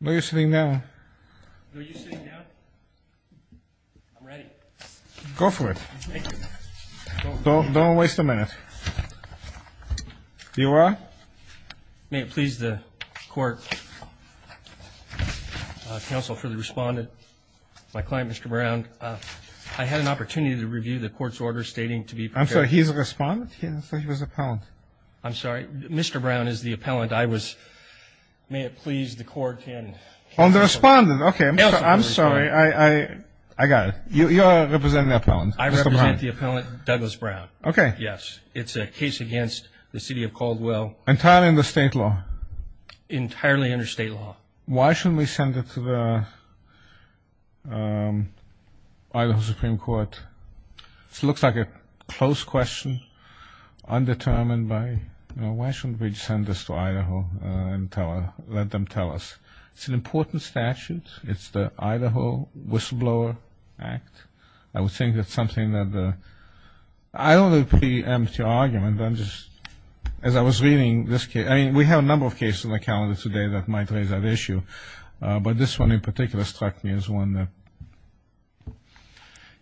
May it please the court counsel for the respondent my client mr. Brown I had an opportunity to review the court's orders stating to be I'm sorry he's a respondent he was a pound I'm sorry mr. Brown is the appellant I was may it can on the respondent okay I'm sorry I I got it you are representing a pound I represent the appellant Douglas Brown okay yes it's a case against the city of Caldwell entirely in the state law entirely under state law why shouldn't we send it to the Idaho Supreme Court it looks like a close question undetermined by you know why shouldn't we send this to Idaho and tell her let them tell us it's an important statute it's the Idaho whistleblower act I would think that's something that the I don't know pretty empty argument I'm just as I was reading this case I mean we have a number of cases on the calendar today that might raise that issue but this one in particular struck me as one that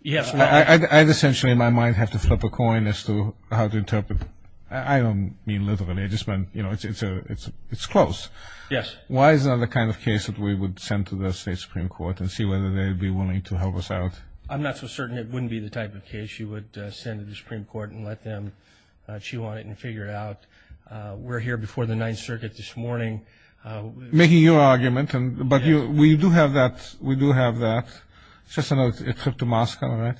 yes I'd essentially in my mind have to flip a coin as to how to interpret I don't mean literally I just meant you know it's it's a it's it's close yes why is that the kind of case that we would send to the state Supreme Court and see whether they'd be willing to help us out I'm not so certain it wouldn't be the type of case you would send it to Supreme Court and let them chew on it and figure it out we're here before the Ninth Circuit this morning making your argument and but you we do have that we do have that just another trip to Moscow right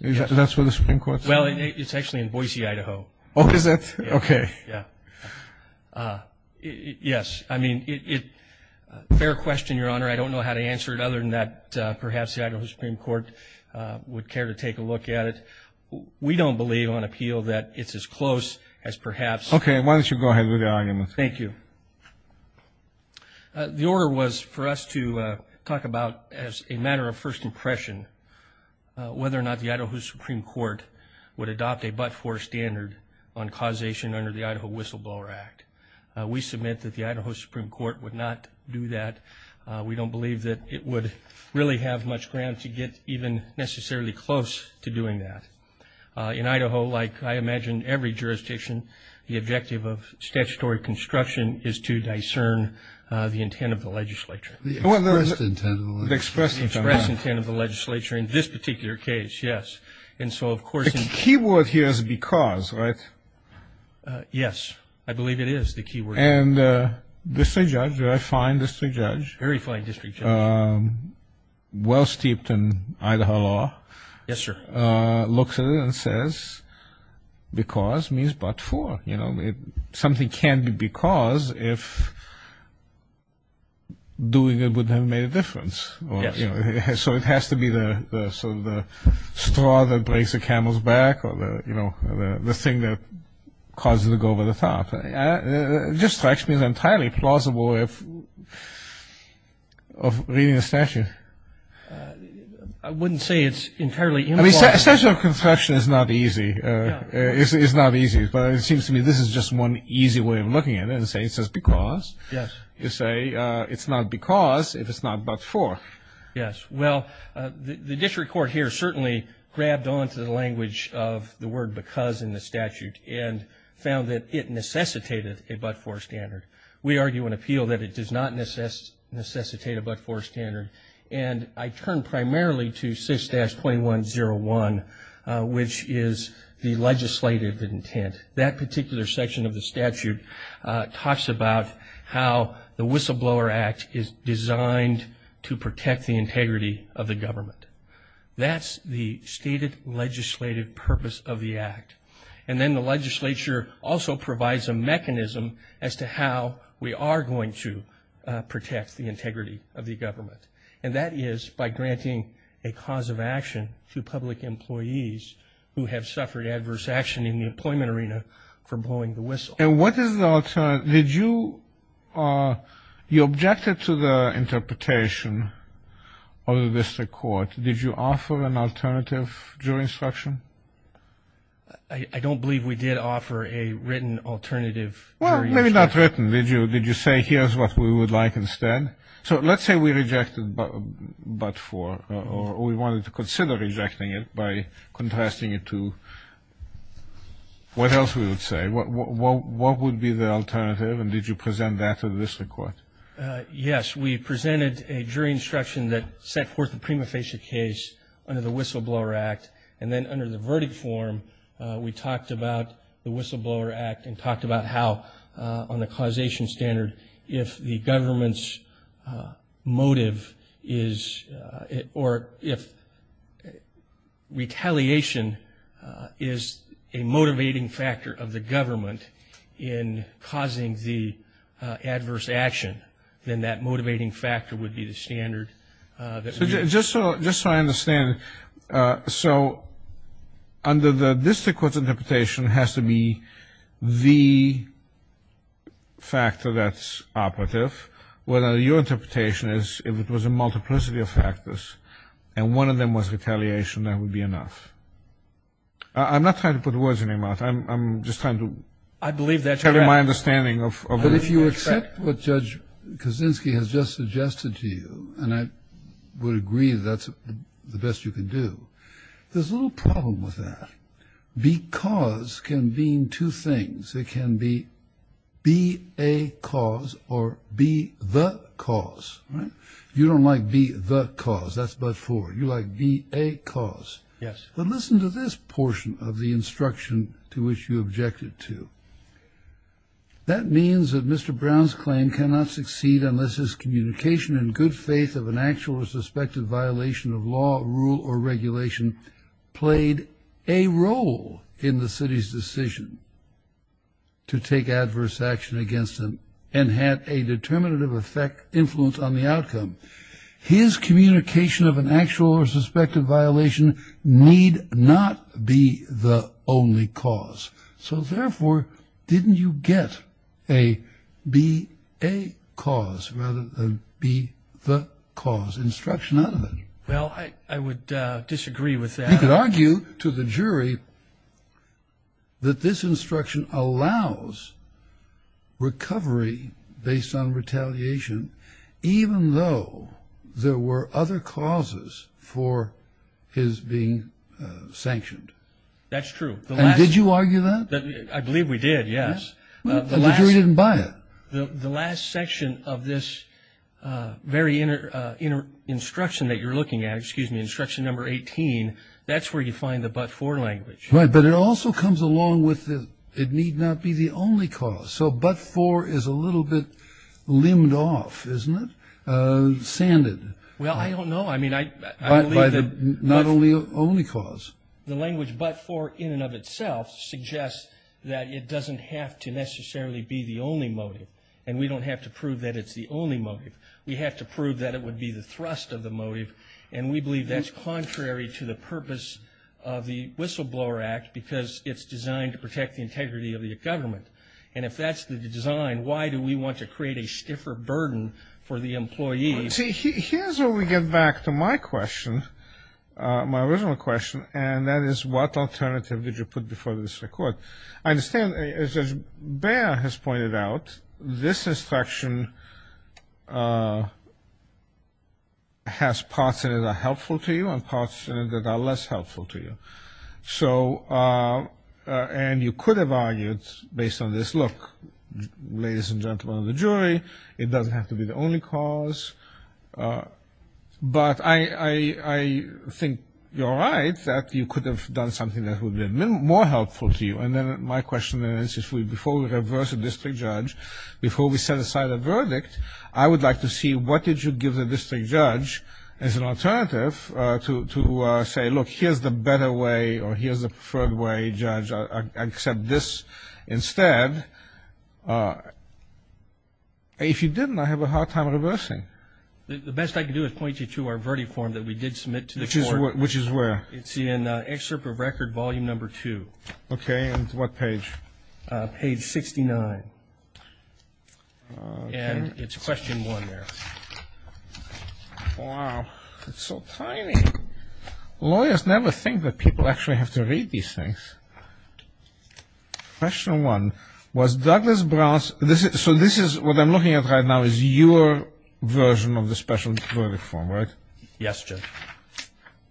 that's where the Supreme Court well it's actually in Boise Idaho okay yes I mean it their question your honor I don't know how to answer it other than that perhaps the Idaho Supreme Court would care to take a look at it we don't believe on appeal that it's as close as perhaps okay why don't you go ahead with the argument thank you the order was for us to talk about as a matter of first impression whether or not the Idaho Supreme Court would adopt a but-for standard on causation under the Idaho Whistleblower Act we submit that the Idaho Supreme Court would not do that we don't believe that it would really have much ground to get even necessarily close to doing that in Idaho like I imagine every jurisdiction the objective of statutory construction is to discern the intent of the legislature the express intent of the legislature in this particular case yes and so of course the keyword here is because right yes I believe it is the key word and this a judge I find this to judge very fine district well-steeped in Idaho law yes sir looks at it and says because means but for you know something can be because if doing it would have made a so it has to be the straw that breaks the camel's back or the you know the thing that causes to go over the top just strikes me as entirely plausible if of reading a statute I wouldn't say it's entirely essential construction is not easy it's not easy but it seems to me this is just one easy way of looking at it's not because if it's not but for yes well the district court here certainly grabbed on to the language of the word because in the statute and found that it necessitated a but-for standard we argue an appeal that it does not necessitate a but-for standard and I turn primarily to 6-2101 which is the talks about how the whistleblower act is designed to protect the integrity of the government that's the stated legislative purpose of the act and then the legislature also provides a mechanism as to how we are going to protect the integrity of the government and that is by granting a cause of action to public employees who have suffered adverse action in the employment arena for did you you objected to the interpretation of the district court did you offer an alternative jury instruction I don't believe we did offer a written alternative well maybe not written did you did you say here's what we would like instead so let's say we rejected but-for or we wanted to consider rejecting it by contrasting it to what else we would say what would be the alternative and did you present that to the district court yes we presented a jury instruction that set forth the prima facie case under the whistleblower act and then under the verdict form we talked about the whistleblower act and talked about how on the causation standard if the government's motive is or if retaliation is a motivating factor of the government in causing the adverse action then that motivating factor would be the standard just so just so I understand so under the district court's interpretation has to be the factor that's operative whether your interpretation is if it was a multiplicity of factors and one of them was retaliation that would be enough I'm not trying to put words in your mouth I'm just trying to I believe that's my understanding of but if you accept what judge Kaczynski has just suggested to you and I would agree that's the best you can do there's a little problem with that because can mean two things it can be be a cause or be the cause right you don't like be the cause that's but for you like be a cause listen to this portion of the instruction to which you objected to that means that mr. Brown's claim cannot succeed unless his communication and good faith of an actual or suspected violation of law rule or regulation played a role in the city's decision to take adverse action against him and had a determinative effect influence on the outcome his communication of an actual or suspected violation need not be the only cause so therefore didn't you get a be a cause rather than be the cause instruction other than well I would disagree with that you could argue to the jury that this instruction allows recovery based on retaliation even though there were other causes for his being sanctioned that's true did you argue that I believe we did yes the jury didn't buy it the last section of this very inner inner instruction that you're looking at excuse me instruction number 18 that's where you find the but for language right but it also comes along with it need not be the only cause so but for is a little bit limbed off isn't it sanded well I don't know I mean I believe that not only only cause the language but for in and of itself suggests that it doesn't have to necessarily be the only motive and we don't have to prove that it's the only motive we have to prove that it would be the thrust of the motive and we believe that's contrary to the purpose of the whistleblower act because it's designed to protect the integrity of the government and if that's the design why do we want to create a stiffer burden for the employees see here's what we get back to my question my original question and that is what alternative did you put before this record I understand as bear has pointed out this instruction has parts that are helpful to you and parts that are less helpful to you so and you could have argued based on this look ladies and gentlemen the jury it doesn't have to be the only cause but I I think you're right that you could have done something that would have been more helpful to you and then my question is if we before we reverse a district judge before we set aside a verdict I would like to see what did you give the district judge as an alternative to say look here's the better way or here's the third way judge I accept this instead if you didn't I have a hard time reversing the best I can do is point you to our verdict form that we did submit to which is what which is where it's in excerpt of record volume number two okay and what page page 69 and it's question one there it's so tiny lawyers never think that people actually have to read these things question one was Douglas Brown's this is so this is what I'm looking at right now is your version of the special verdict form right yes Jim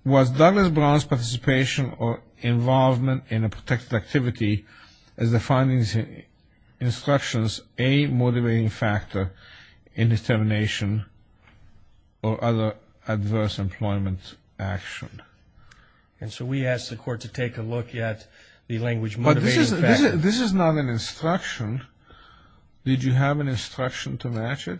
was Douglas Brown's participation or involvement in a protected activity as the findings instructions a motivating factor in determination or other adverse employment action and so we asked the court to take a look at the language but this is not an instruction did you have an instruction to match it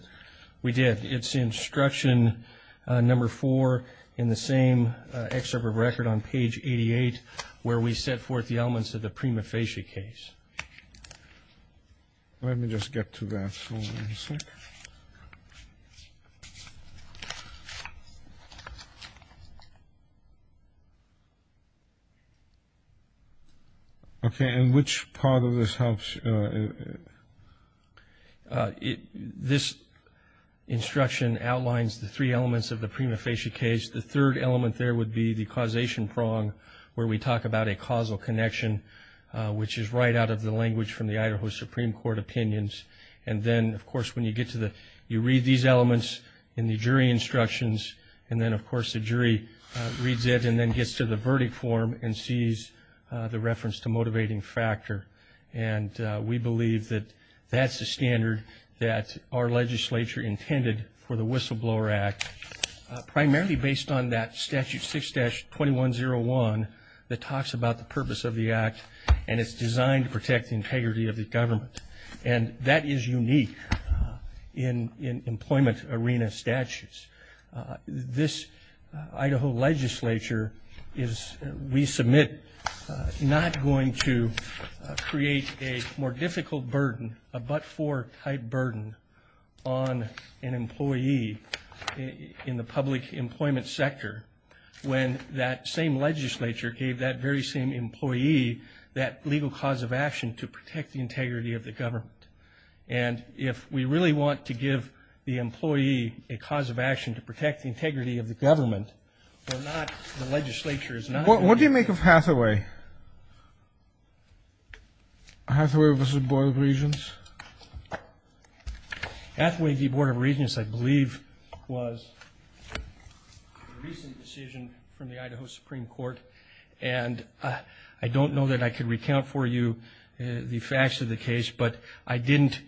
we did it's instruction number four in the same excerpt of record on page 88 where we set forth the elements of the prima facie case let me just get to that okay and which part of this helps it this instruction outlines the three elements of the prima facie case the third element there would be the causation prong where we talk about a causal connection which is right out of the language from the Idaho Supreme Court opinions and then of course when you get to the you read these elements in the jury instructions and then of course the jury reads it and then gets to the verdict form and sees the reference to motivating factor and we believe that that's the standard that our legislature intended for the whistleblower act primarily based on that statute 6-2101 that talks about the purpose of the act and it's designed to protect the integrity of the government and that is unique in in employment arena statutes this Idaho legislature is we submit not going to create a more difficult burden a but-for type burden on an employee in the public employment sector when that same legislature gave that very same employee that legal cause of action to protect the integrity of the government and if we really want to give the employee a cause of action to protect the integrity of the government what do you make of Hathaway? Hathaway v. Board of Regents? Hathaway v. Board of Regents I believe was a recent decision from the Idaho Supreme Court and I don't know that I could recount for you the facts of the case but I didn't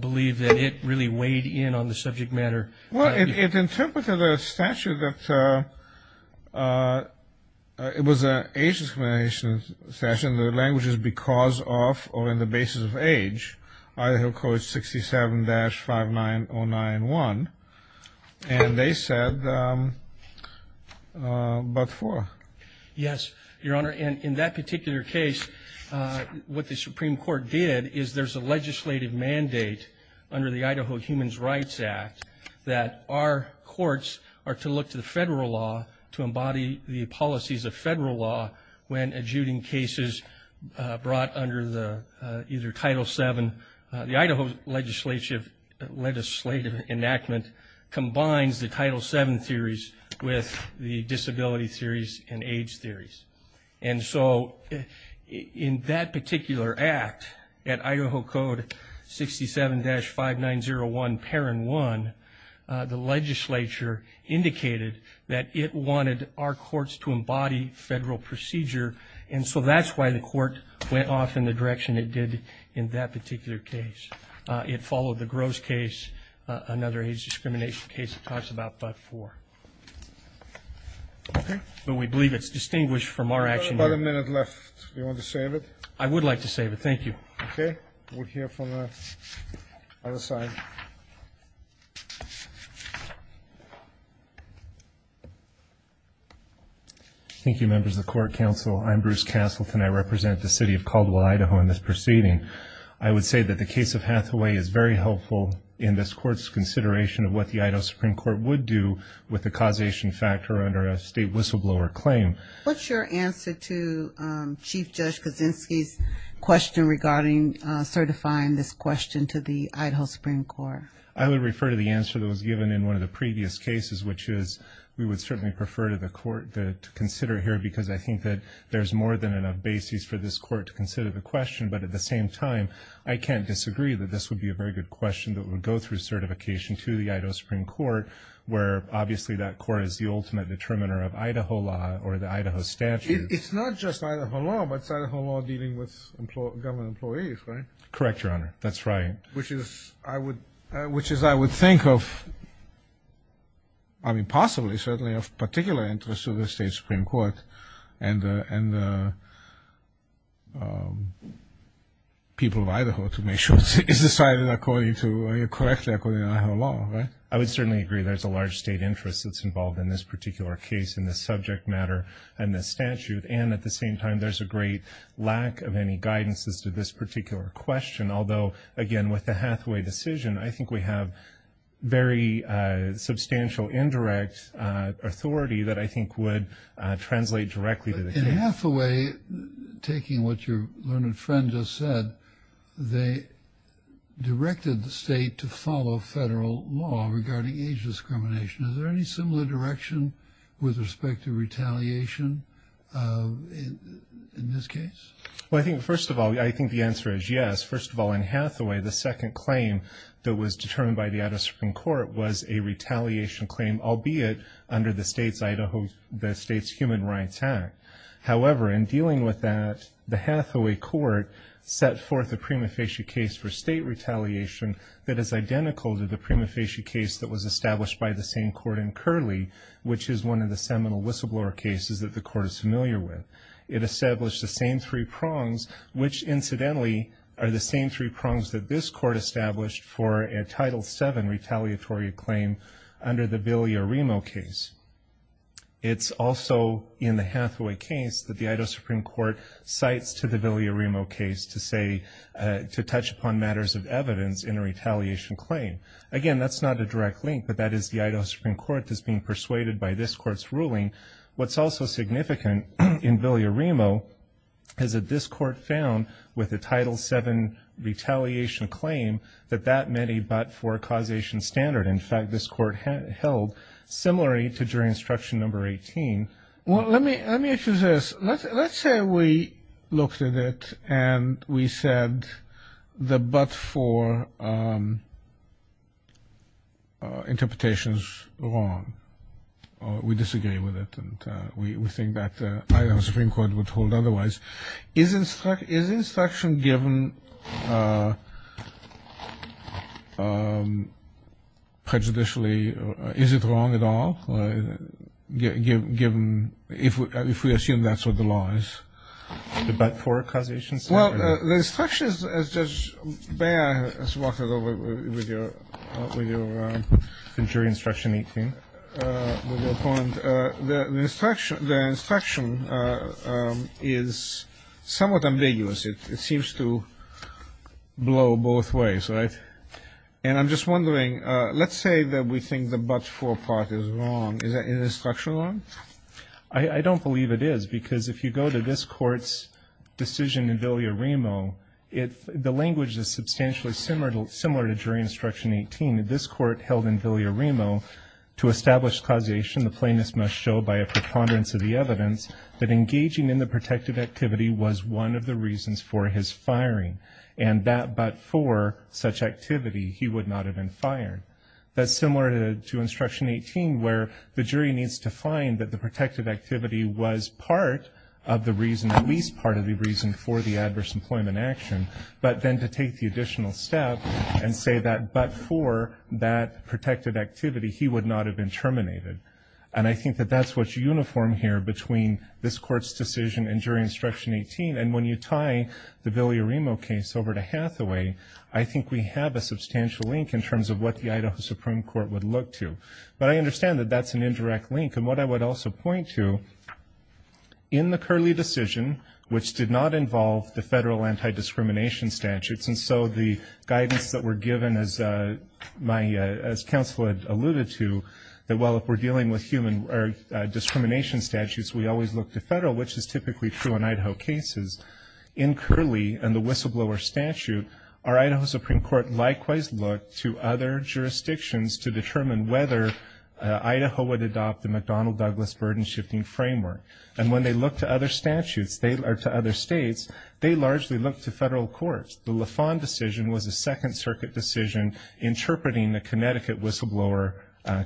believe that it really weighed in on the subject matter well it interpreted a statute that it was an age discrimination statute the language is because of or in the basis of age Idaho code 67-59091 and they said but-for yes your honor and in that particular case what the Supreme Court did is there's a legislative mandate under the Idaho Human Rights Act that our courts are to look to the federal law to embody the policies of federal law when adjudicating cases brought under the either title 7 the Idaho legislative legislative enactment combines the title 7 theories with the disability theories and age theories and so in that particular act at Idaho code 67-5901 paren 1 the legislature indicated that it wanted our courts to embody federal procedure and so that's why the court went off in the direction it did in that particular case it followed the gross case another age discrimination case it talks about but-for but we believe it's distinguished from our action about a minute left you want to save it I would like to save it thank you okay we'll hear from the other side thank you members of court counsel I'm Bruce Castleton I represent the city of Caldwell Idaho in this proceeding I would say that the case of Hathaway is very helpful in this court's consideration of what the Idaho Supreme Court would do with the causation factor under a state whistleblower claim what's your answer to Chief Judge Kaczynski's question regarding certifying this question to the Idaho Supreme Court I would refer to the answer that was given in one of the previous cases which is we would certainly prefer to the court to consider here because I think that there's more than enough basis for this court to consider the question but at the same time I can't disagree that this would be a very good question that would go through certification to the Idaho Supreme Court where obviously that court is the ultimate determiner of Idaho law or the Idaho statute it's not just Idaho law but Idaho law dealing with government employees right correct your honor that's right which is I would which is I would think of I mean possibly certainly of particular interest to the state Supreme Court and and people of Idaho to make sure it's decided according to correctly according to Idaho law right I would certainly agree there's a large state interest that's involved in this particular case in this subject matter and this statute and at the same time there's a great lack of any guidance as to this particular question although again with the Hathaway decision I think we have very substantial indirect authority that I think would translate directly to the Hathaway taking what your learned friend just said they directed the state to follow federal law regarding age discrimination is there any similar direction with respect to retaliation in this case well I think first of all I think the answer is yes first of all in Hathaway the second claim that was determined by the Idaho Supreme Court was a retaliation claim albeit under the state's Idaho the state's Human Rights Act however in dealing with that the Hathaway court set forth a prima facie case for state retaliation that is identical to the prima facie case that was established by the same court in Curley which is one of the seminal whistleblower cases that the court is familiar with it established the same three prongs which incidentally are the same three prongs that this court established for a Title VII retaliatory claim under the Villarimo case it's also in the Hathaway case that the Idaho Supreme Court cites to the Villarimo case to say to touch upon matters of evidence in a retaliation claim again that's not a direct link but that is the Idaho Supreme Court is being persuaded by this court's ruling what's also significant in Villarimo is that this court found with a Title VII retaliation claim that that many but for a causation standard in fact this court held similarly to jury instruction number 18 well let me let me ask you this let's say we looked at it and we said the but for interpretations wrong we disagree with it and we think that the Idaho Supreme Court would hold otherwise is instruct is instruction given prejudicially is it wrong at all given if we assume that's what the law is the but for causation well the the instruction the instruction is somewhat ambiguous it seems to blow both ways right and I'm just wondering let's say that we think the but for part is wrong is that instruction on I don't believe it is because if you go to this court's decision in Villarimo it the language is substantially similar to similar to jury instruction 18 that this court held in Villarimo to establish causation the plaintiff's must show by a preponderance of the evidence that engaging in the protective activity was one of the reasons for his firing and that but for such activity he would not have been fired that's similar to instruction 18 where the jury needs to find that the protective activity was part of the reason at least part of the reason for the adverse employment action but then to take the additional step and say that but for that protective activity he would not have been terminated and I think that that's what uniform here between this court's decision and jury instruction 18 and when you tie the Villarimo case over to Hathaway I think we have a substantial link in terms of what the Idaho Supreme Court would look to but I understand that that's an indirect link and what I would also point to in the curly decision which did not involve the federal anti-discrimination statutes and so the guidance that were given as my as counsel had alluded to that well if we're dealing with human or discrimination statutes we always look to federal which is typically true in Idaho cases in curly and the whistleblower statute our Idaho Supreme Court likewise look to other jurisdictions to determine whether Idaho would adopt the McDonnell Douglas burden-shifting framework and when they look to other statutes they are to other states they largely look to federal courts the Lafond decision was a Second Circuit decision interpreting the Connecticut whistleblower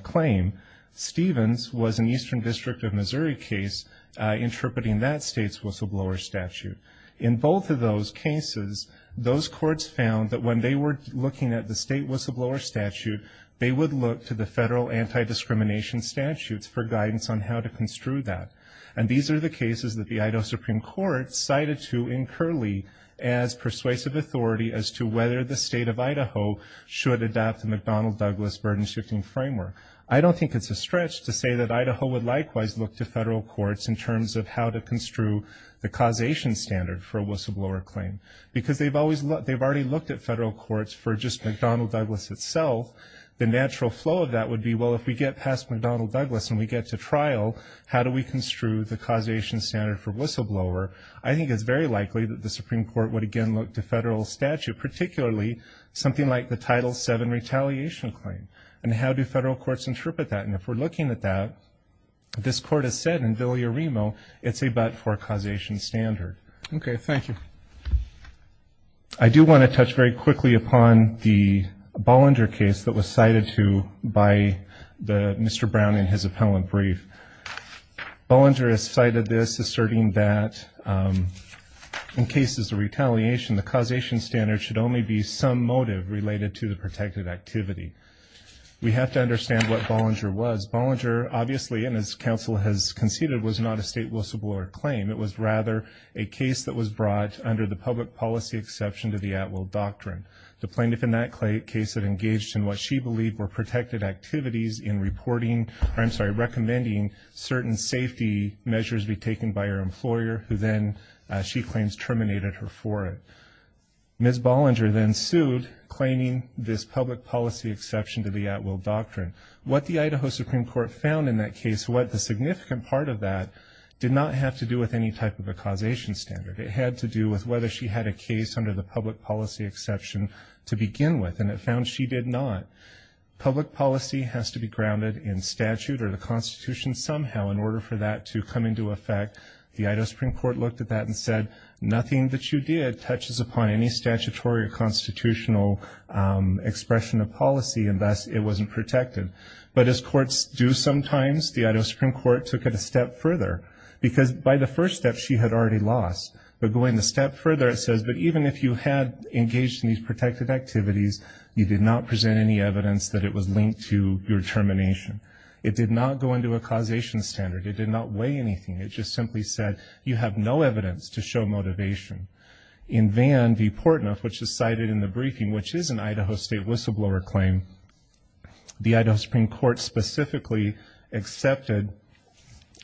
claim Stevens was an Eastern District of Missouri case interpreting that state's whistleblower statute in both of those cases those courts found that when they were looking at the state whistleblower statute they would look to the federal anti-discrimination statutes for guidance on how to construe that and these are the cases that the Idaho Supreme Court cited to in curly as persuasive authority as to whether the state of Idaho should adopt the McDonnell Douglas burden-shifting framework I don't think it's a stretch to say that Idaho would likewise look to federal courts in terms of how to construe the causation standard for a whistleblower claim because they've always looked they've already looked at federal courts for just McDonnell Douglas itself the natural flow of that would be well if we get past McDonnell Douglas and we get to trial how do we construe the causation standard for whistleblower I think it's very likely that the Supreme Court would again look to federal statute particularly something like the title 7 retaliation claim and how do federal courts interpret that and if we're looking at that this court has said in Villa Remo it's a but for causation standard okay thank you I do want to touch very quickly upon the Brown in his appellant brief Bollinger has cited this asserting that in cases of retaliation the causation standard should only be some motive related to the protected activity we have to understand what Bollinger was Bollinger obviously and as counsel has conceded was not a state whistleblower claim it was rather a case that was brought under the public policy exception to the at will doctrine the plaintiff in that clay case that engaged in what she believed were protected activities in reporting I'm sorry recommending certain safety measures be taken by her employer who then she claims terminated her for it miss Bollinger then sued claiming this public policy exception to the at-will doctrine what the Idaho Supreme Court found in that case what the significant part of that did not have to do with any type of a causation standard it had to do with whether she had a case under the public policy exception to begin with and it found she did not public policy has to be grounded in statute or the Constitution somehow in order for that to come into effect the Idaho Supreme Court looked at that and said nothing that you did touches upon any statutory or constitutional expression of policy and thus it wasn't protected but as courts do sometimes the Idaho Supreme Court took it a step further because by the first step she had already lost but going a step further it says but even if you had engaged in these protected activities you did not present any evidence that it was linked to your termination it did not go into a causation standard it did not weigh anything it just simply said you have no evidence to show motivation in Van v. Portnuff which is cited in the briefing which is an Idaho State whistleblower claim the Idaho Supreme Court specifically accepted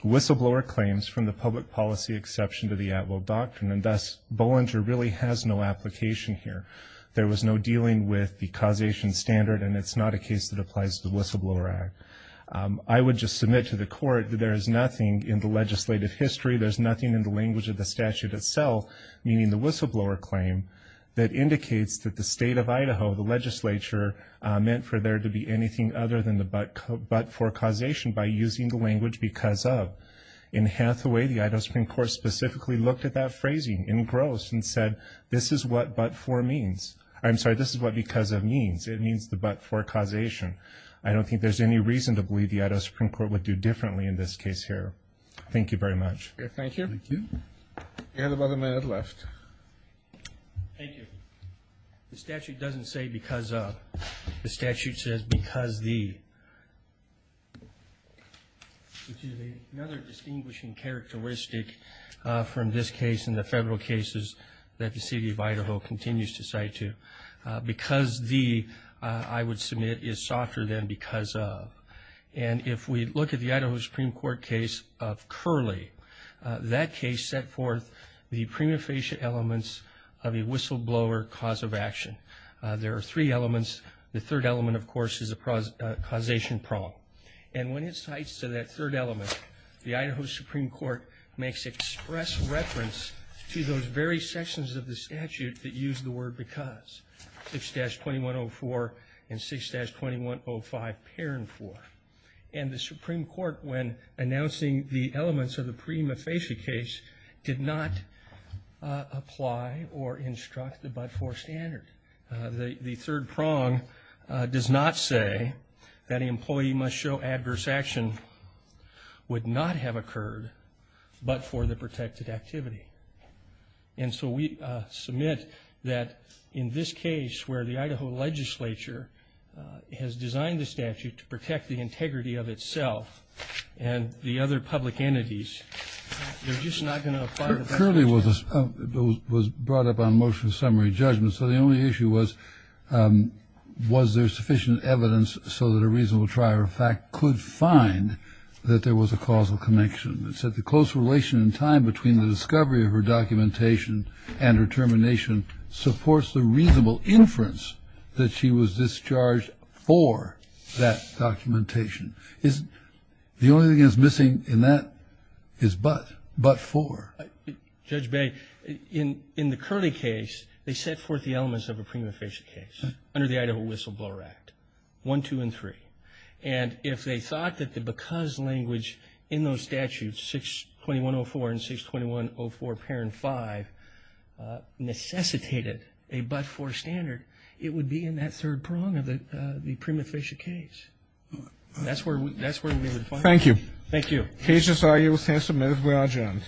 whistleblower claims from the public policy exception to the at will doctrine and thus Bollinger really has no application here there was no dealing with the causation standard and it's not a case that applies to the Whistleblower Act I would just submit to the court that there is nothing in the legislative history there's nothing in the language of the statute itself meaning the whistleblower claim that indicates that the state of Idaho the legislature meant for there to be anything other than the but but for causation by using the language because of in Hathaway the Idaho Supreme Court specifically looked at that phrasing in gross and said this is what but for means I'm sorry this is what because of means it means the but for causation I don't think there's any reason to believe the Idaho Supreme Court would do differently in this case here thank you very much thank you you have about a minute left thank you the statute doesn't say because of the statute says because the another distinguishing characteristic from this case in the federal cases that the city of Idaho continues to cite to because the I would submit is softer than because of and if we look at the Idaho Supreme Court case of curly that case set forth the prima facie elements of a whistleblower cause of action there are three elements the third element of course is a process causation problem and when it cites to that third element the Idaho Supreme Court makes express reference to those very sections of the statute that use the word because 6-2104 and 6-2105 parent for and the Supreme Court when announcing the elements of the prima facie case did not apply or instruct the four standard the third prong does not say that an employee must show adverse action would not have occurred but for the protected activity and so we submit that in this case where the Idaho legislature has designed the statute to protect the integrity of itself and the other public entities they're just not was brought up on motion summary judgment so the only issue was was there sufficient evidence so that a reasonable trier of fact could find that there was a causal connection that said the close relation in time between the discovery of her documentation and her termination supports the reasonable inference that she was discharged for that documentation is the only thing is missing in that is but but for judge bay in in the curly case they set forth the elements of a prima facie case under the Idaho whistleblower act 1 2 & 3 and if they thought that the because language in those statutes 6-2104 and 6-2104 parent 5 necessitated a but for standard it would be in that third prong of it the prima facie case that's where thank you thank you he's just are you with him submitted we are adjourned